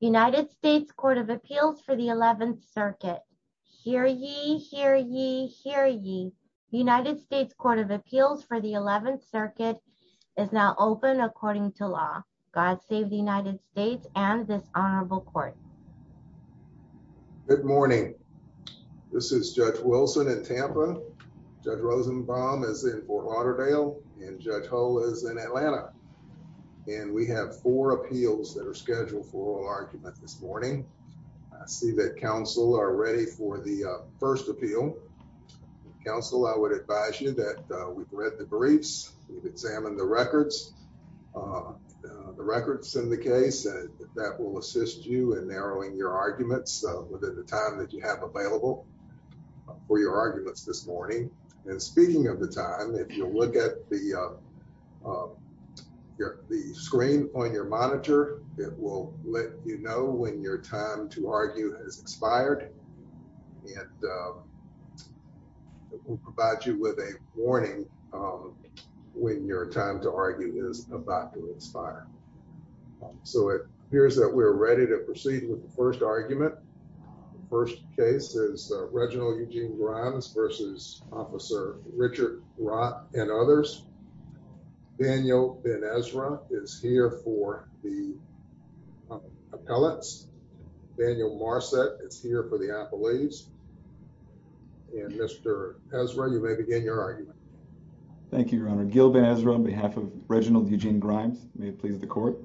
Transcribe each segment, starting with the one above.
United States Court of Appeals for the 11th Circuit. Hear ye, hear ye, hear ye. United States Court of Appeals for the 11th Circuit is now open according to law. God save the United States and this honorable court. Good morning. This is Judge Wilson in Tampa. Judge Rosenbaum is in Fort and we have four appeals that are scheduled for oral argument this morning. I see that counsel are ready for the first appeal. Counsel, I would advise you that we've read the briefs, we've examined the records, the records in the case that will assist you in narrowing your arguments within the time that you have available for your arguments this morning. And speaking of the time, if you look at the screen on your monitor, it will let you know when your time to argue has expired and it will provide you with a warning when your time to argue is about to expire. So it appears that we're ready to proceed with the first argument. First case is Reginald Eugene Grimes versus Officer Richard Rott and others. Daniel Ben Ezra is here for the appellates. Daniel Marset is here for the appellees. And Mr. Ezra, you may begin your argument. Thank you, Your Honor. Gil Ben Ezra on behalf of Reginald Eugene Grimes. May it please the court.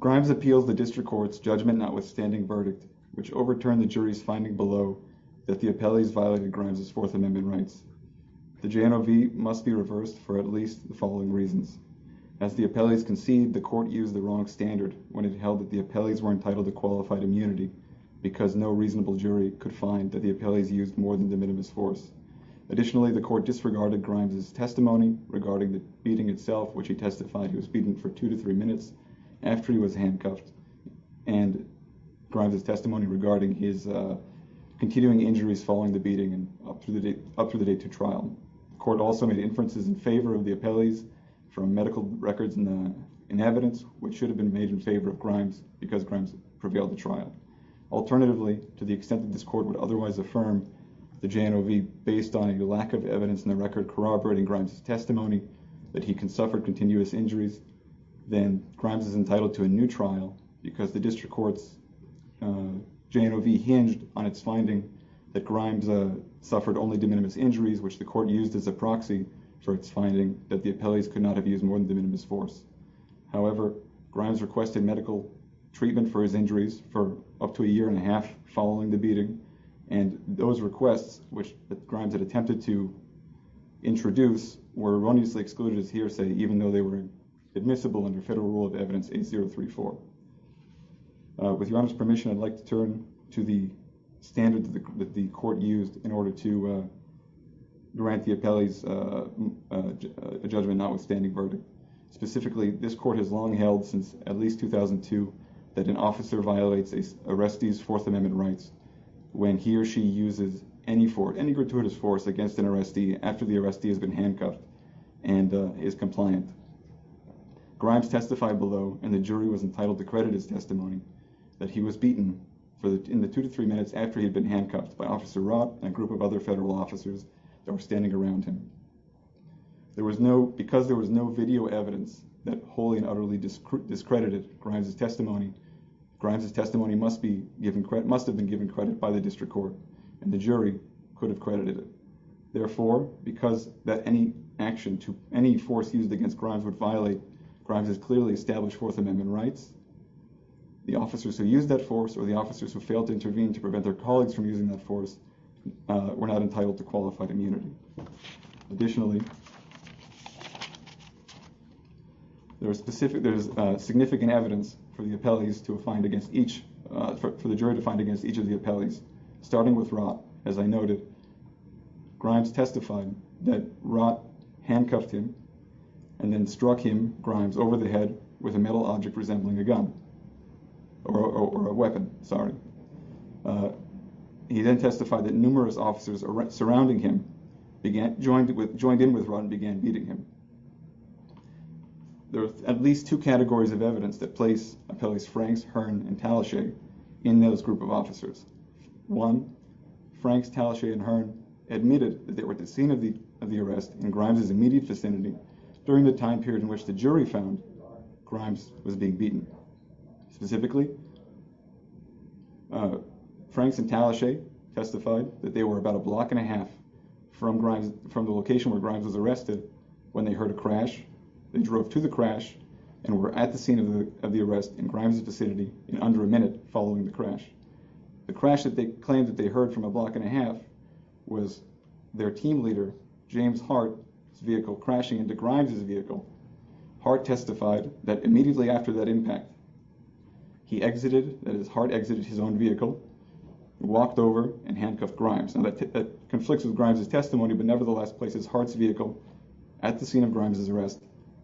Grimes appeals the district court's judgment, notwithstanding verdict, which overturned the jury's finding below that the appellees violated Grimes' Fourth Amendment rights. The JNOV must be reversed for at least the following reasons. As the appellees conceived, the court used the wrong standard when it held that the appellees were entitled to qualified immunity because no reasonable jury could find that the appellees used more than the minimum force. Additionally, the court disregarded Grimes' testimony regarding the beating itself, which he testified he was beaten for two to three minutes after he was beaten. The court also made inferences in favor of the appellees from medical records and evidence, which should have been made in favor of Grimes because Grimes prevailed the trial. Alternatively, to the extent that this court would otherwise affirm the JNOV based on a lack of evidence in the record corroborating Grimes' testimony that he can suffer continuous injuries, then Grimes is entitled to a new trial because the district court's JNOV hinged on its finding that Grimes suffered only de minimis injuries, which the court used as a proxy for its finding that the appellees could not have used more than de minimis force. However, Grimes requested medical treatment for his injuries for up to a year and a half following the beating, and those requests, which Grimes had attempted to introduce, were erroneously excluded as hearsay even though they were admissible under federal rule of evidence 8034. With your Honor's permission, I'd like to turn to the standards that the court used in order to grant the appellees a judgment notwithstanding verdict. Specifically, this court has long held since at least 2002 that an officer violates a arrestee's Fourth Amendment rights when he or she uses any gratuitous force against an and is compliant. Grimes testified below, and the jury was entitled to credit his testimony, that he was beaten in the two to three minutes after he had been handcuffed by Officer Rott and a group of other federal officers that were standing around him. Because there was no video evidence that wholly and utterly discredited Grimes' testimony, Grimes' testimony must have been given credit by the district court, and the jury could have credited it. Therefore, because any force used against Grimes would violate Grimes' clearly established Fourth Amendment rights, the officers who used that force or the officers who failed to intervene to prevent their colleagues from using that force were not entitled to qualified immunity. Additionally, there is significant evidence for the jury to find against each of the appellees, starting with Rott. As I noted, Grimes testified that Rott handcuffed him and then struck him, Grimes, over the head with a metal object resembling a gun or a weapon, sorry. He then testified that numerous officers surrounding him joined in with Rott and began beating him. There are at least two categories of evidence that place appellees Franks, Hearn, and Talashe in those group of officers. One, Franks, Talashe, and Hearn admitted that they were at the scene of the arrest in Grimes' immediate vicinity during the time period in which the jury found Grimes was being beaten. Specifically, Franks and Talashe testified that they were about a block and a half from the location where Grimes was arrested when they heard a crash, then drove to the crash, and were at the scene of the arrest in Grimes' vicinity in under a minute following the crash. The crash that they claimed that they heard from a block and a half was their team leader, James Hart's vehicle crashing into Grimes' vehicle. Hart testified that immediately after that impact, he exited, that is, Hart exited his own vehicle, walked over, and handcuffed Grimes. Now, that conflicts with Grimes' testimony, but nevertheless places Hart's vehicle at the scene of Grimes' arrest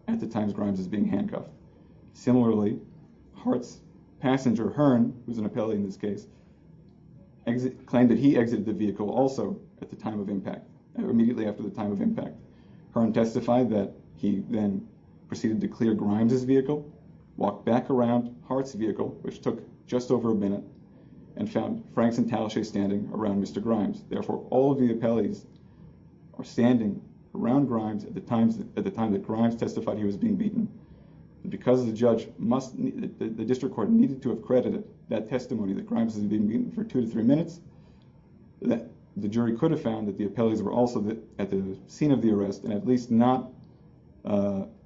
at the times Grimes is being handcuffed. Similarly, Hart's passenger, Hearn, who's an appellee in this case, claimed that he exited the vehicle also at the time of impact, immediately after the time of impact. Hearn testified that he then proceeded to clear Grimes' vehicle, walked back around Hart's vehicle, which took just over a minute, and found Franks and Talashe standing around Mr. Grimes. Therefore, all of the appellees are standing around Grimes at the time that Grimes testified he was being beaten. Because the district court needed to have credited that testimony that Grimes was being beaten for two to three minutes, the jury could have found that the appellees were also at the scene of the arrest, and at least not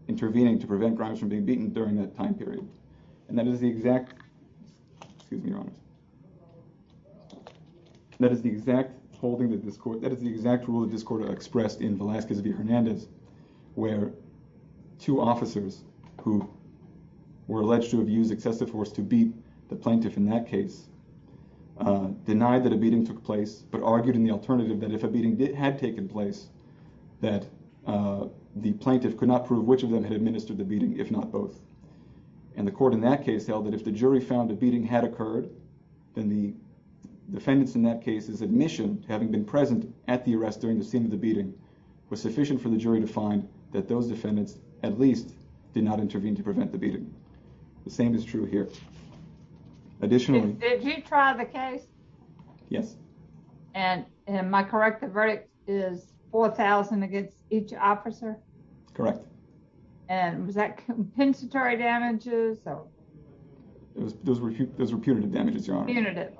intervening to prevent Grimes from being beaten during that time period. And that is the exact rule that this court expressed in Velazquez v. Hernandez, where two officers who were alleged to have used excessive force to beat the plaintiff in that case, denied that a beating took place, but argued in the alternative that if a beating had taken place, that the plaintiff could not prove which of them administered the beating, if not both. And the court in that case held that if the jury found a beating had occurred, then the defendants in that case's admission, having been present at the arrest during the scene of the beating, was sufficient for the jury to find that those defendants at least did not intervene to prevent the beating. The same is true here. Additionally... Did you try the case? Yes. And am I correct, the verdict is 4,000 against each officer? Correct. And was that compensatory damages? Those were punitive damages, Your Honor. Punitive.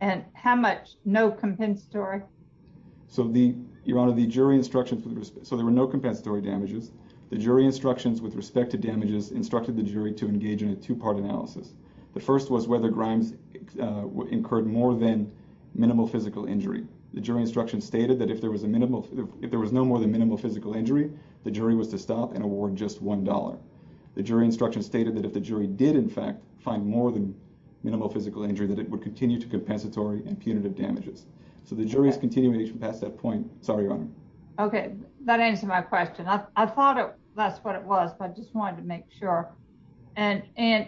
And how much no compensatory? So the, Your Honor, the jury instructions... So there were no compensatory damages. The jury instructions with respect to damages instructed the jury to engage in a two-part analysis. The first was whether Grimes incurred more than minimal physical injury. The jury instructions stated that if there was a minimal... The jury was to stop and award just $1. The jury instructions stated that if the jury did, in fact, find more than minimal physical injury, that it would continue to compensatory and punitive damages. So the jury is continuing to pass that point. Sorry, Your Honor. Okay. That answered my question. I thought that's what it was, but I just wanted to make sure. And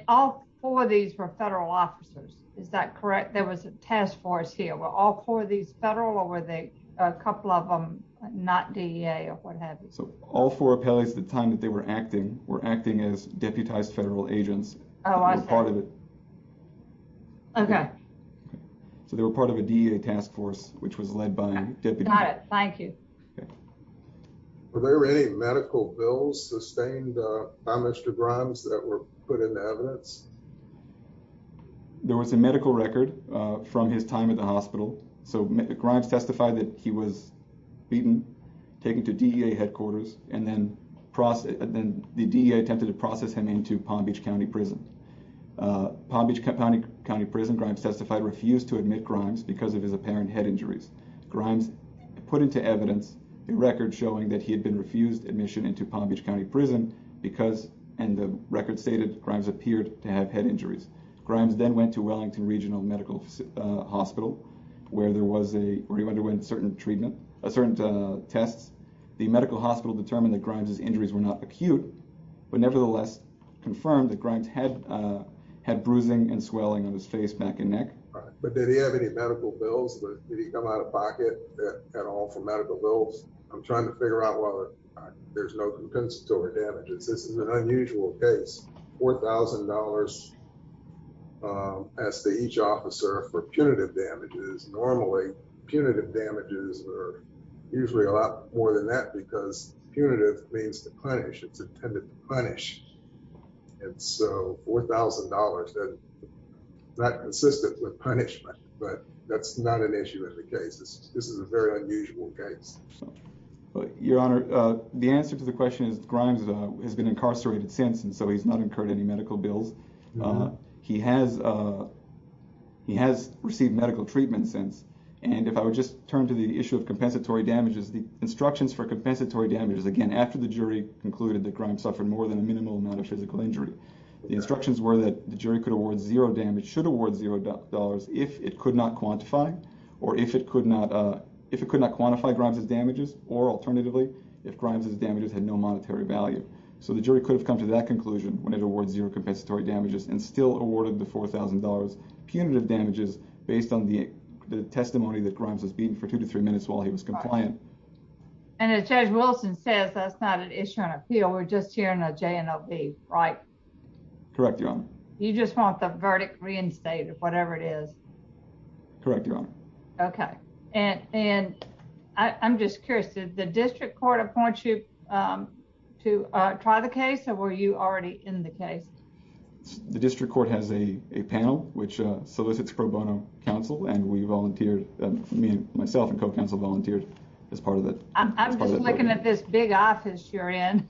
all four of these were federal officers. Is that correct? There was a task force here. Were all four of these federal or were they couple of them not DEA or what have you? So all four appellees at the time that they were acting were acting as deputized federal agents. Oh, I see. So they were part of a DEA task force, which was led by a deputy. Got it. Thank you. Were there any medical bills sustained by Mr. Grimes that were put into evidence? There was a medical record from his time at the hospital. So Grimes testified that he was beaten, taken to DEA headquarters, and then the DEA attempted to process him into Palm Beach County Prison. Palm Beach County Prison, Grimes testified, refused to admit Grimes because of his apparent head injuries. Grimes put into evidence a record showing that he had been refused admission into Palm Beach County Prison because, and the record stated, Grimes appeared to have head injuries. Grimes then went to Wellington Regional Medical Hospital where there was a, where he went to a certain treatment, a certain test. The medical hospital determined that Grimes's injuries were not acute, but nevertheless confirmed that Grimes had, had bruising and swelling on his face, back and neck. But did he have any medical bills? Did he come out of pocket at all for medical bills? I'm trying to figure out whether there's no compensatory damages. This is an unusual case. $4,000 as to each officer for punitive damages normally punitive damages are usually a lot more than that because punitive means to punish, it's intended to punish. And so $4,000, not consistent with punishment, but that's not an issue in the case. This is a very unusual case. Your Honor, the answer to the question is Grimes has been incarcerated since, and so he's not incurred any medical bills. He has, he has received medical treatment since. And if I would just turn to the issue of compensatory damages, the instructions for compensatory damages, again, after the jury concluded that Grimes suffered more than a minimal amount of physical injury, the instructions were that the jury could award zero damage, should award $0 if it could not quantify, or if it could not, if it could not quantify Grimes's damages or alternatively, if Grimes's damages had no monetary value. So the jury could have come to that conclusion when it awards zero compensatory damages and still awarded the $4,000 punitive damages based on the testimony that Grimes was beaten for two to three minutes while he was compliant. And as Judge Wilson says, that's not an issue on appeal. We're just hearing a JNLB, right? Correct, Your Honor. You just want the verdict reinstated, whatever it is. Correct, Your Honor. Okay. And, and I'm just curious, did the district court appoint you to try the case or were you already in the case? The district court has a panel which solicits pro bono counsel, and we volunteered, me and myself and co-counsel volunteered as part of that. I'm just looking at this big office you're in.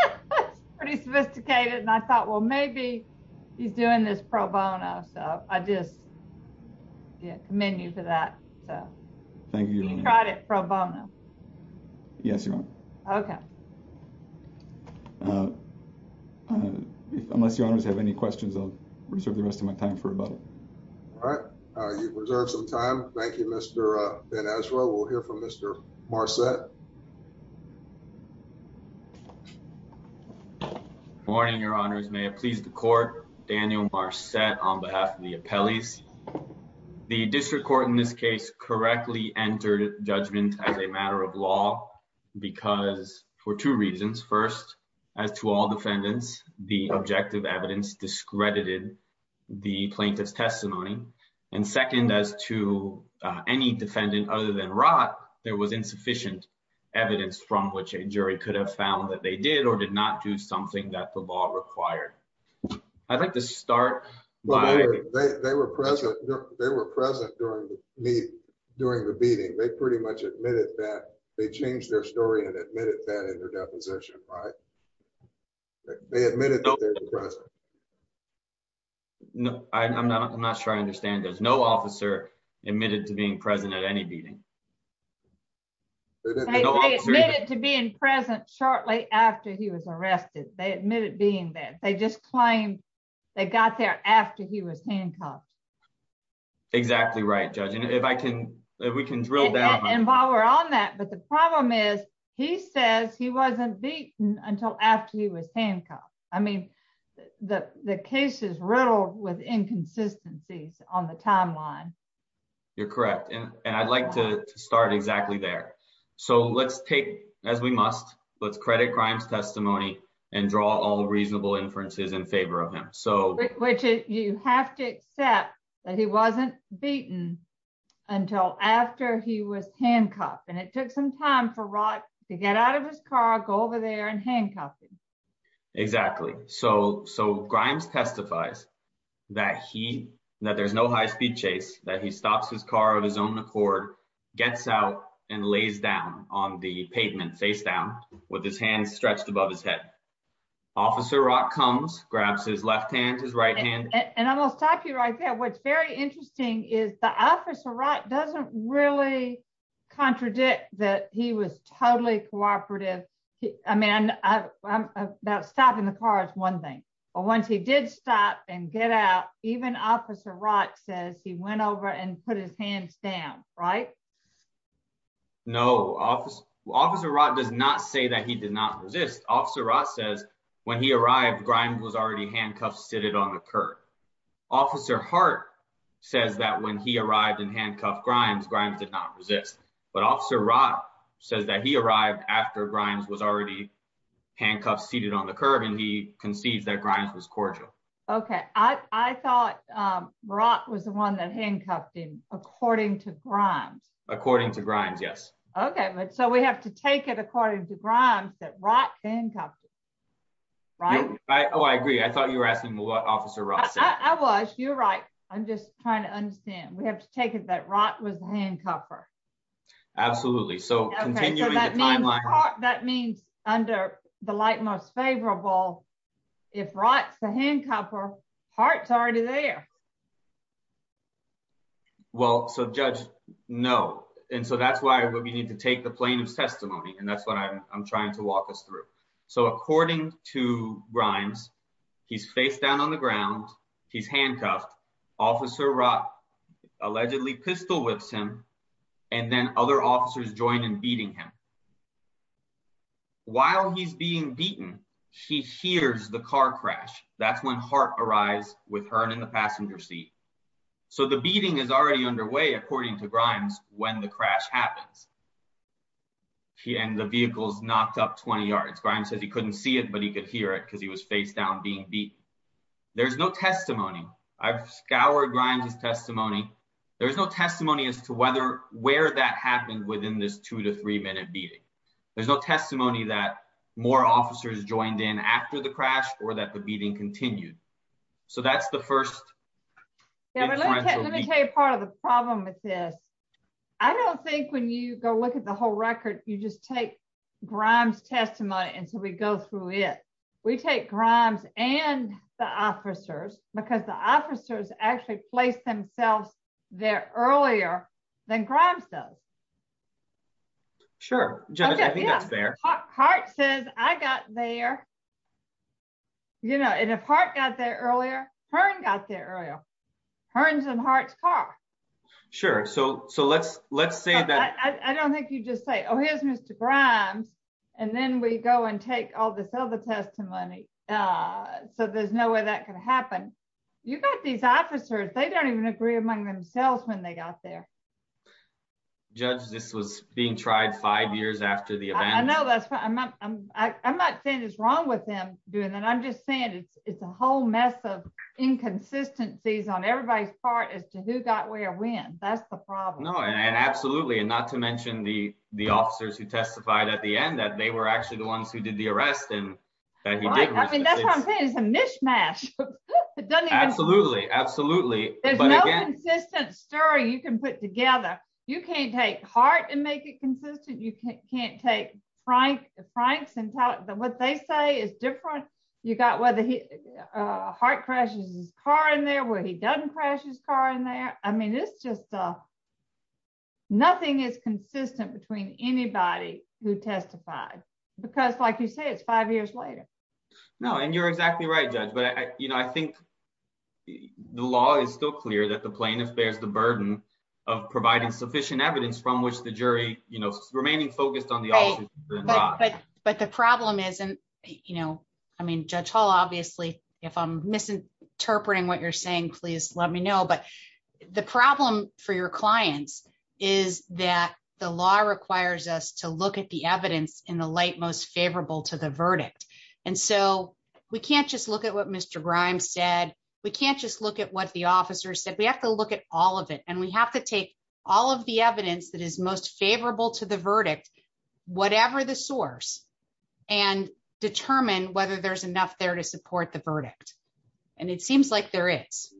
It's pretty sophisticated. And I thought, well, maybe he's doing this pro bono. So I just commend you for that. Thank you, Your Honor. You tried it pro bono. Yes, Your Honor. Okay. Uh, unless Your Honors have any questions, I'll reserve the rest of my time for rebuttal. All right. You've reserved some time. Thank you, Mr. Ben-Ezra. We'll hear from Mr. Marcet. Good morning, Your Honors. May it please the court, Daniel Marcet on behalf of the appellees. The district court in this case correctly entered judgment as a matter of law because for two reasons. First, as to all defendants, the objective evidence discredited the plaintiff's testimony. And second, as to any defendant other than Rott, there was insufficient evidence from which a jury could have found that they did or did not do something that the law required. I'd like to start. They were present. They were present during the meeting. They pretty much admitted that. They changed their story and admitted that in their deposition, right? They admitted that they were present. No, I'm not sure I understand. There's no officer admitted to being present at any meeting. They admitted to being present shortly after he was arrested. They admitted being there. They just claimed they got there after he was handcuffed. Exactly right, Judge. And if I can, if we can drill down. And while we're on that, but the problem is he says he wasn't beaten until after he was handcuffed. I mean, the case is riddled with inconsistencies on the timeline. You're correct. And I'd like to start exactly there. So let's take, as we must, let's credit crime's testimony and draw all reasonable inferences in that he wasn't beaten until after he was handcuffed. And it took some time for Rock to get out of his car, go over there and handcuff him. Exactly. So, so Grimes testifies that he, that there's no high speed chase, that he stops his car of his own accord, gets out and lays down on the pavement face down with his hands stretched above his head. Officer Rock comes, grabs his left hand, his right hand. And I will stop you right there. What's very interesting is the Officer Rock doesn't really contradict that he was totally cooperative. I mean, I'm about stopping the car is one thing. But once he did stop and get out, even Officer Rock says he went over and put his hands down, right? No office. Officer Rock does not say that he did not resist. Officer Rock says when he arrived, Grimes was already handcuffed, seated on the curb. Officer Hart says that when he arrived and handcuffed Grimes, Grimes did not resist. But Officer Rock says that he arrived after Grimes was already handcuffed, seated on the curb, and he concedes that Grimes was cordial. Okay, I thought Rock was the one that handcuffed him, according to Grimes. According to Grimes, yes. Okay, but so we have to take it according to Grimes that Rock handcuffed him, right? I agree. I thought you were asking what Officer Rock said. I was. You're right. I'm just trying to understand. We have to take it that Rock was the handcuffer. Absolutely. So continuing the timeline. That means under the light most favorable, if Rock's the handcuffer, Hart's already there. Well, so Judge, no. And so that's why we need to take the plaintiff's testimony, and that's what I'm trying to walk us through. So according to Grimes, he's face down on the ground. He's handcuffed. Officer Rock allegedly pistol whips him, and then other officers join in beating him. While he's being beaten, he hears the car crash. That's when Hart arrives with her in the passenger seat. So the beating is already underway, according to Grimes, when the crash happens. And the vehicle's knocked up 20 yards. Grimes says he couldn't see it, but he could hear it because he was face down being beaten. There's no testimony. I've scoured Grimes' testimony. There's no testimony as to whether, where that happened within this two to three minute beating. There's no testimony that more officers joined in after the crash or that the beating continued. So that's the first. Let me tell you part of the problem with this. I don't think when you go look at the whole record, you just take Grimes' testimony until we go through it. We take Grimes and the officers, because the officers actually placed themselves there earlier than Grimes does. Sure. I think that's fair. Hart says, I got there. And if Hart got there earlier, Hearn got there earlier. Hearn's in Hart's car. Sure. So let's say that- I don't think you just say, oh, here's Mr. Grimes. And then we go and take all this other testimony. So there's no way that can happen. You got these officers. They don't even agree among themselves when they got there. Judge, this was being tried five years after the event. I know that's- I'm not saying it's wrong with them doing that. I'm just saying it's a whole mess of inconsistencies on everybody's part as to who got where when. That's the problem. No, and absolutely. And not to mention the officers who testified at the end, that they were actually the ones who did the arrest and that he did- That's what I'm saying. It's a mishmash. Absolutely. Absolutely. There's no consistent story you can put together. You can't take Hart and make it consistent. You can't take Frank's and what they say is different. You got whether Hart crashes his car in there, where he doesn't crash his car in there. I mean, it's just- nothing is consistent between anybody who testified. Because like you said, it's five years later. No, and you're exactly right, Judge. But I think the law is still clear that the plaintiff bears the burden of providing sufficient evidence from which the jury, remaining focused on the- But the problem isn't- I mean, Judge Hall, obviously, if I'm misinterpreting what you're saying, please let me know. But the problem for your clients is that the law requires us to look at the evidence in the light most favorable to the verdict. And so we can't just look at what Mr. Grimes said. We can't just look at what the officer said. We have to look at all of it. And we have to take all of the evidence that is most favorable to the verdict, whatever the source, and determine whether there's enough there to support the verdict. And it seems like there is.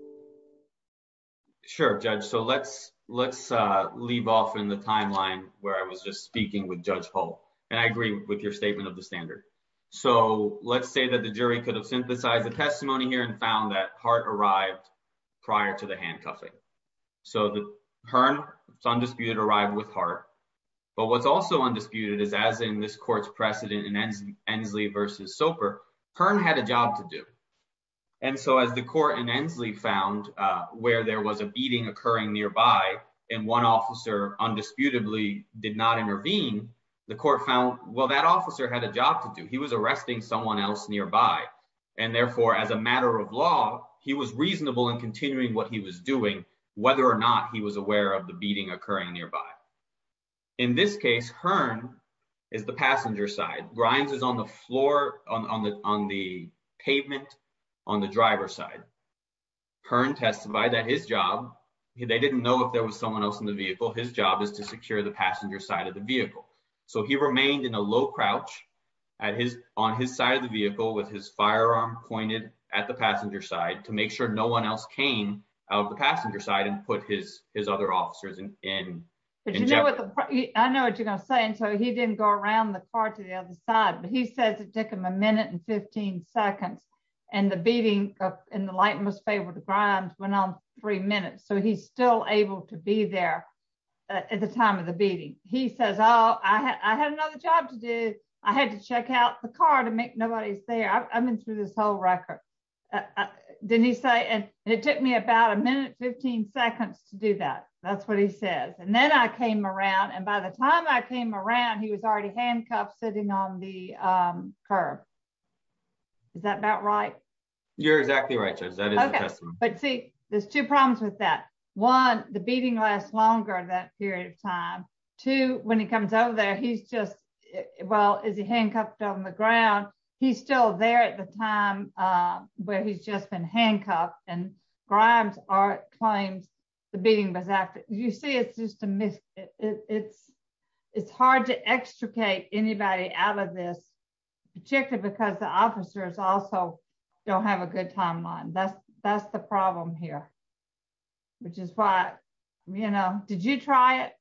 Sure, Judge. So let's- let's leave off in the timeline where I was just speaking with Judge Hall. And I agree with your statement of the standard. So let's say that the jury could have synthesized the testimony here and found that Hart arrived prior to the handcuffing. So the- Hearn, it's undisputed, arrived with Hart. But what's also undisputed is as in this court's precedent in Ensley versus Soper, Hearn had a job to do. And so as the court in Ensley found where there was a beating occurring nearby and one officer undisputably did not intervene, the court found, well, that officer had a job to do. He was arresting someone else nearby. And therefore, as a matter of law, he was reasonable in continuing what he was doing, whether or not he was aware of the beating occurring nearby. In this case, Hearn is the Hearn testified that his job, they didn't know if there was someone else in the vehicle, his job is to secure the passenger side of the vehicle. So he remained in a low crouch on his side of the vehicle with his firearm pointed at the passenger side to make sure no one else came out of the passenger side and put his other officers in jeopardy. I know what you're going to say. And so he didn't go around the car to the other side. But he says it took him a minute and 15 seconds. And the beating in the light most favorable to Grimes went on three minutes. So he's still able to be there at the time of the beating. He says, Oh, I had another job to do. I had to check out the car to make nobody's there. I've been through this whole record. Didn't he say and it took me about a minute, 15 seconds to do that. That's what he says. And then I came around. And by the time I came around, he was already handcuffed sitting on the curb. Is that about right? You're exactly right. But see, there's two problems with that. One, the beating last longer that period of time to when he comes over there. He's just well, is he handcuffed on the ground? He's still there at the time where he's just been handcuffed and Grimes claims the beating was active. You see, it's just a myth. It's hard to extricate anybody out of this, particularly because the officers also don't have a good timeline. That's the problem here. Which is why, you know, did you try it?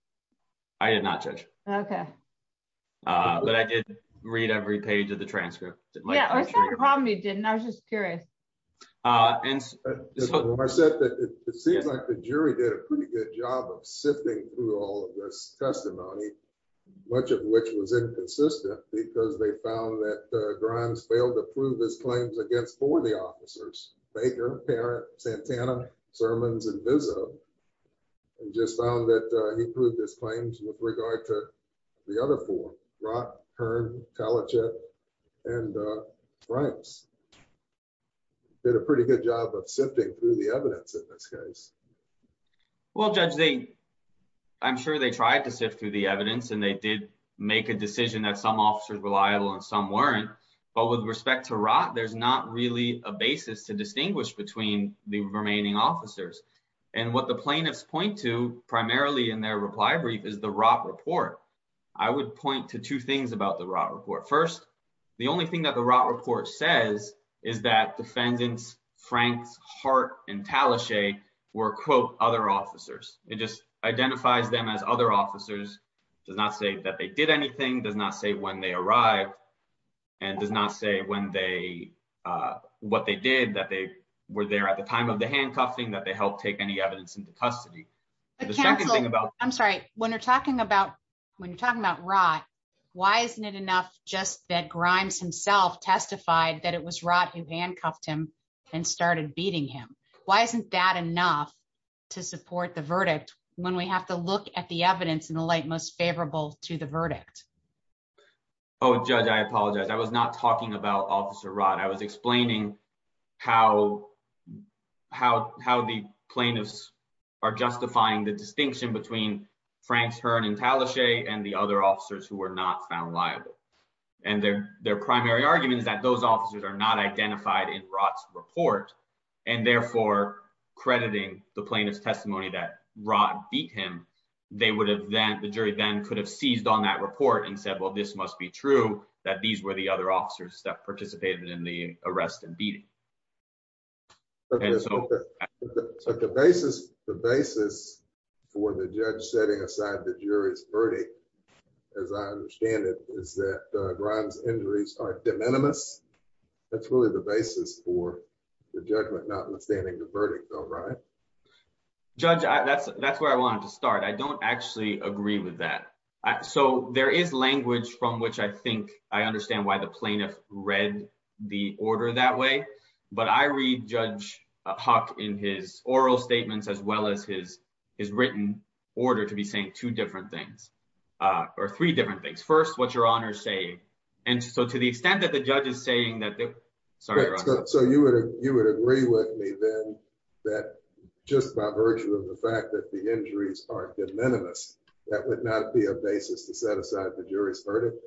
I did not judge. Okay. But I did read every page of the transcript. I was just curious. It seems like the jury did a pretty good job of sifting through all of this testimony, much of which was inconsistent because they found that Grimes failed to prove his claims against four of the officers, Baker, Parent, Santana, Sermons, and Vizzo. And just found that he proved his claims with regard to the other four, Rott, Kern, Kalachick, and Grimes. Did a pretty good job of sifting through the evidence in this case. Well, Judge, I'm sure they tried to sift through the evidence and they did make a decision that some officers were liable and some weren't. But with respect to Rott, there's not really a basis to distinguish between the remaining officers. And what the plaintiffs point to primarily in their reply brief is the Rott report. I would point to two things about the Rott report. First, the only thing that the Rott report says is that defendants Franks, Hart, and Talashe were, quote, other officers. It just identifies them as other officers, does not say that they did anything, does not say when they arrived, and does not say what they did, that they were there at the time of the handcuffing, that they helped take any evidence into custody. The second thing about- Counsel, I'm sorry. When you're talking about Rott, why isn't it enough just that Grimes himself testified that it was Rott who handcuffed him and started beating him? Why isn't that enough to support the verdict when we have to look at the evidence in the light most favorable to the verdict? Oh, Judge, I apologize. I was not talking about Officer Rott. I was explaining how the plaintiffs are justifying the distinction between Franks, Hart, and Talashe and the other officers who were not found liable. And their primary argument is that those officers are not identified in Rott's report, and therefore crediting the plaintiff's testimony that Rott beat him, the jury then could have seized on that report and said, well, this must be true, that these were the other officers that participated in the arrest and beating. So the basis for the judge setting aside the jury's verdict, as I understand it, is that Grimes' injuries are de minimis. That's really the basis for the judgment, not understanding the verdict, though, right? Judge, that's where I wanted to start. I don't actually agree with that. So there is language from which I think I understand why the plaintiff read the order that way. But I read Judge Huck in his oral statements as well as his written order to be saying two different things, or three different things. First, what's your honor saying? And so to the extent that the you would agree with me then that just by virtue of the fact that the injuries are de minimis, that would not be a basis to set aside the jury's verdict?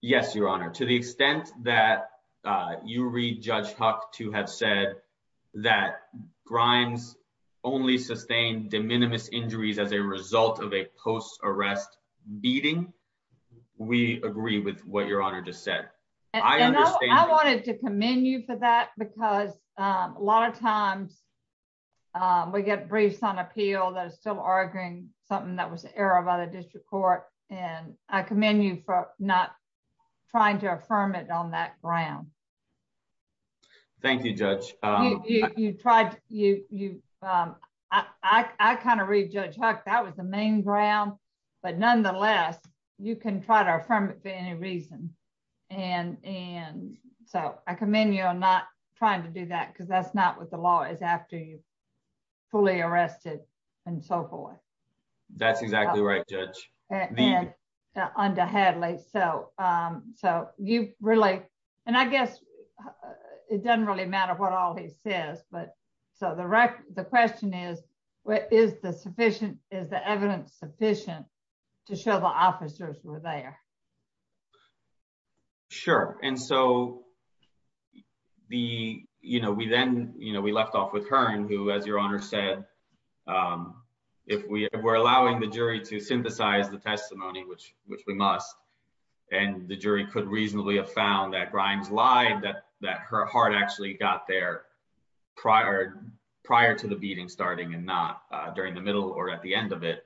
Yes, your honor. To the extent that you read Judge Huck to have said that Grimes only sustained de minimis injuries as a result of a post-arrest beating, we agree with what your honor just said. I wanted to commend you for that, because a lot of times we get briefs on appeal that are still arguing something that was an error by the district court. And I commend you for not trying to affirm it on that ground. Thank you, Judge. I kind of read Judge Huck, that was the main ground. But nonetheless, you can try to affirm it for any reason. And so I commend you on not trying to do that, because that's not what the law is after you're fully arrested, and so forth. That's exactly right, Judge. Under Hadley. So you really, and I guess it doesn't really matter what all he says. But so the question is, is the evidence sufficient to show the officers were there? Sure. And so we then, we left off with Hearn, who, as your honor said, if we were allowing the jury to synthesize the testimony, which we must, and the jury could reasonably have found that Grimes lied, that her heart actually got there prior to the beating starting and not during the middle or at the end of it.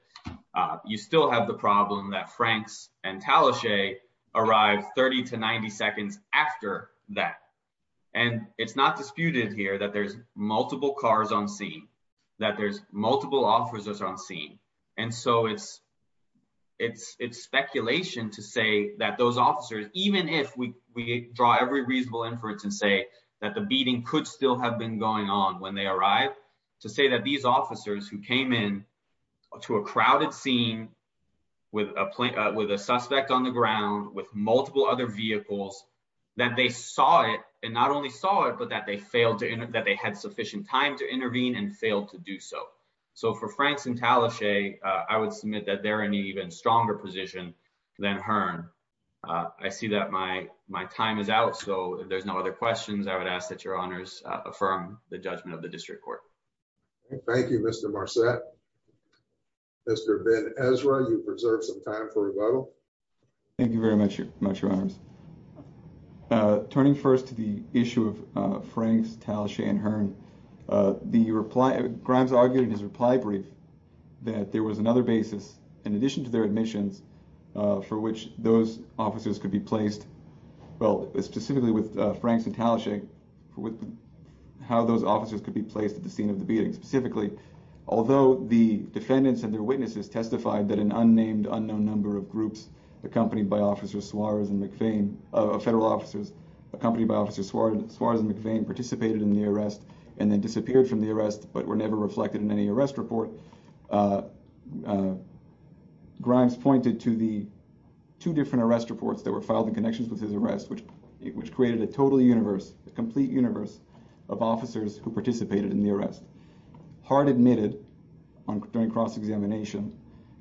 You still have the problem that Franks and Talashe arrived 30 to 90 seconds after that. And it's not disputed here that there's multiple cars on scene, that there's multiple officers on scene. And so it's speculation to say that those officers, even if we draw every reasonable inference and say that the beating could still have been going on when they arrived, to say that these officers who came in to a crowded scene with a suspect on the ground, with multiple other vehicles, that they saw it and not only saw it, but that they had sufficient time to intervene and failed to do so. So for Franks and Talashe, I would submit that they're in an even stronger position than Hearn. I see that my time is out. So if there's no other questions, I would ask that Your Honors affirm the judgment of the district court. Thank you, Mr. Marcet. Mr. Ben Ezra, you've reserved some time for rebuttal. Thank you very much, Your Honors. Turning first to the issue of Franks, Talashe, and Hearn, Grimes argued in his reply brief that there was another basis, in addition to their admissions, for which those officers could be placed, well, specifically with Franks and Talashe, with how those officers could be placed at the scene of the beating. Specifically, although the defendants and their witnesses testified that an unnamed, unknown number of groups accompanied by officers Suarez and McVean, federal officers accompanied by officers Suarez and McVean participated in the arrest and then disappeared from the arrest but were never reflected in any arrest report, Grimes pointed to the two different arrest reports that were the complete universe of officers who participated in the arrest. Hart admitted during cross-examination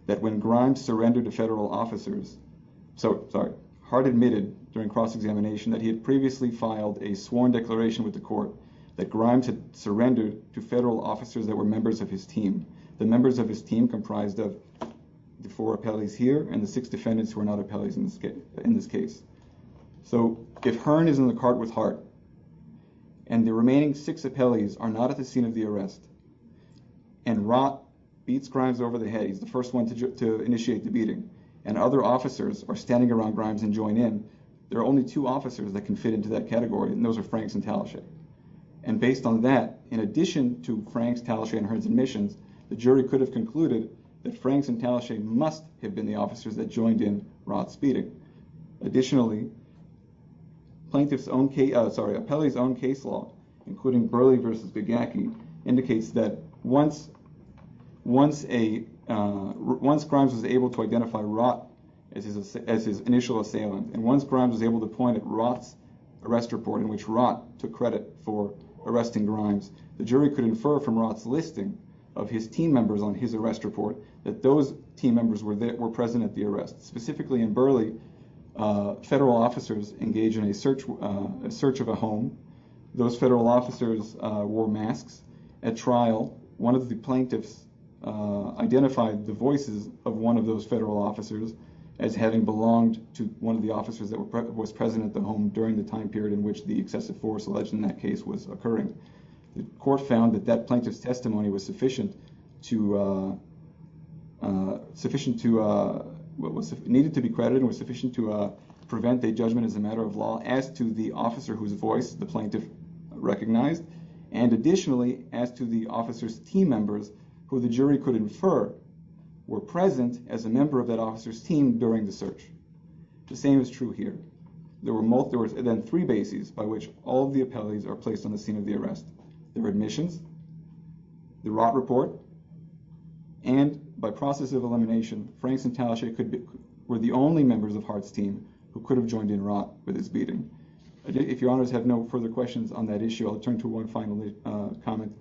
that when Grimes surrendered to federal officers, so, sorry, Hart admitted during cross-examination that he had previously filed a sworn declaration with the court that Grimes had surrendered to federal officers that were members of his team, the members of his team comprised of the four appellees here and the six defendants who are in this case. So, if Hearn is in the cart with Hart and the remaining six appellees are not at the scene of the arrest and Rott beats Grimes over the head, he's the first one to initiate the beating, and other officers are standing around Grimes and join in, there are only two officers that can fit into that category and those are Franks and Talashe. And based on that, in addition to Franks, Talashe, and Hearn's admissions, the jury could have concluded that Franks and Talashe must have been the officers that joined in Rott's beating. Additionally, plaintiff's own case, sorry, appellee's own case law including Burley versus Gagaki indicates that once Grimes was able to identify Rott as his initial assailant and once Grimes was able to point at Rott's arrest report in which Rott took credit for arresting Grimes, the jury could infer from Rott's listing of his team members on his arrest report that those team members were there, were present at the arrest. Specifically in Burley, federal officers engage in a search of a home. Those federal officers wore masks. At trial, one of the plaintiffs identified the voices of one of those federal officers as having belonged to one of the officers that was present at the home during the time period in which the excessive force alleged in that case was occurring. The court found that that plaintiff's testimony was sufficient to, needed to be credited and was sufficient to prevent a judgment as a matter of law as to the officer whose voice the plaintiff recognized, and additionally, as to the officer's team members who the jury could infer were present as a member of that officer's team during the search. The same is true here. There were multiple, then three bases by which all of the appellees are placed on the scene of the arrest. There were admissions, the Rott report, and by process of elimination, Franks and Tallach were the only members of Hart's team who could have joined in Rott with his beating. If your honors have no further questions on that issue, I'll turn to one final comment.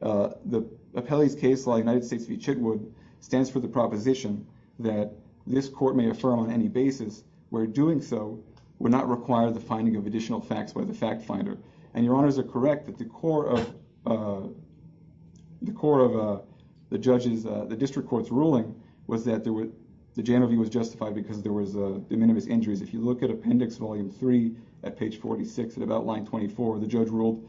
The appellee's case law in the United States v. Chitwood stands for the proposition that this court may affirm on any basis where doing so would not require the finding of additional facts by the fact finder. And your honors are correct that the core of, the core of the judge's, the district court's ruling was that there were, the general view was justified because there was de minimis injuries. If you look at appendix volume three at page 46, at about line 24, the judge ruled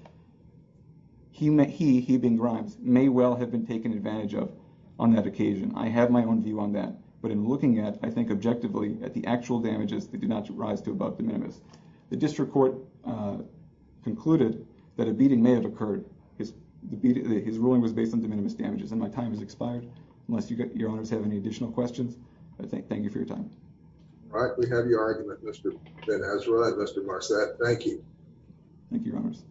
he, he being Grimes, may well have been taken advantage of on that occasion. I have my view on that. But in looking at, I think objectively at the actual damages that did not rise to above de minimis, the district court concluded that a beating may have occurred. His ruling was based on de minimis damages. And my time has expired unless you get, your honors have any additional questions. I thank you for your time. All right. We have your argument, Mr. Ben-Ezra and Mr. Marsad. Thank you. Thank you, your honors.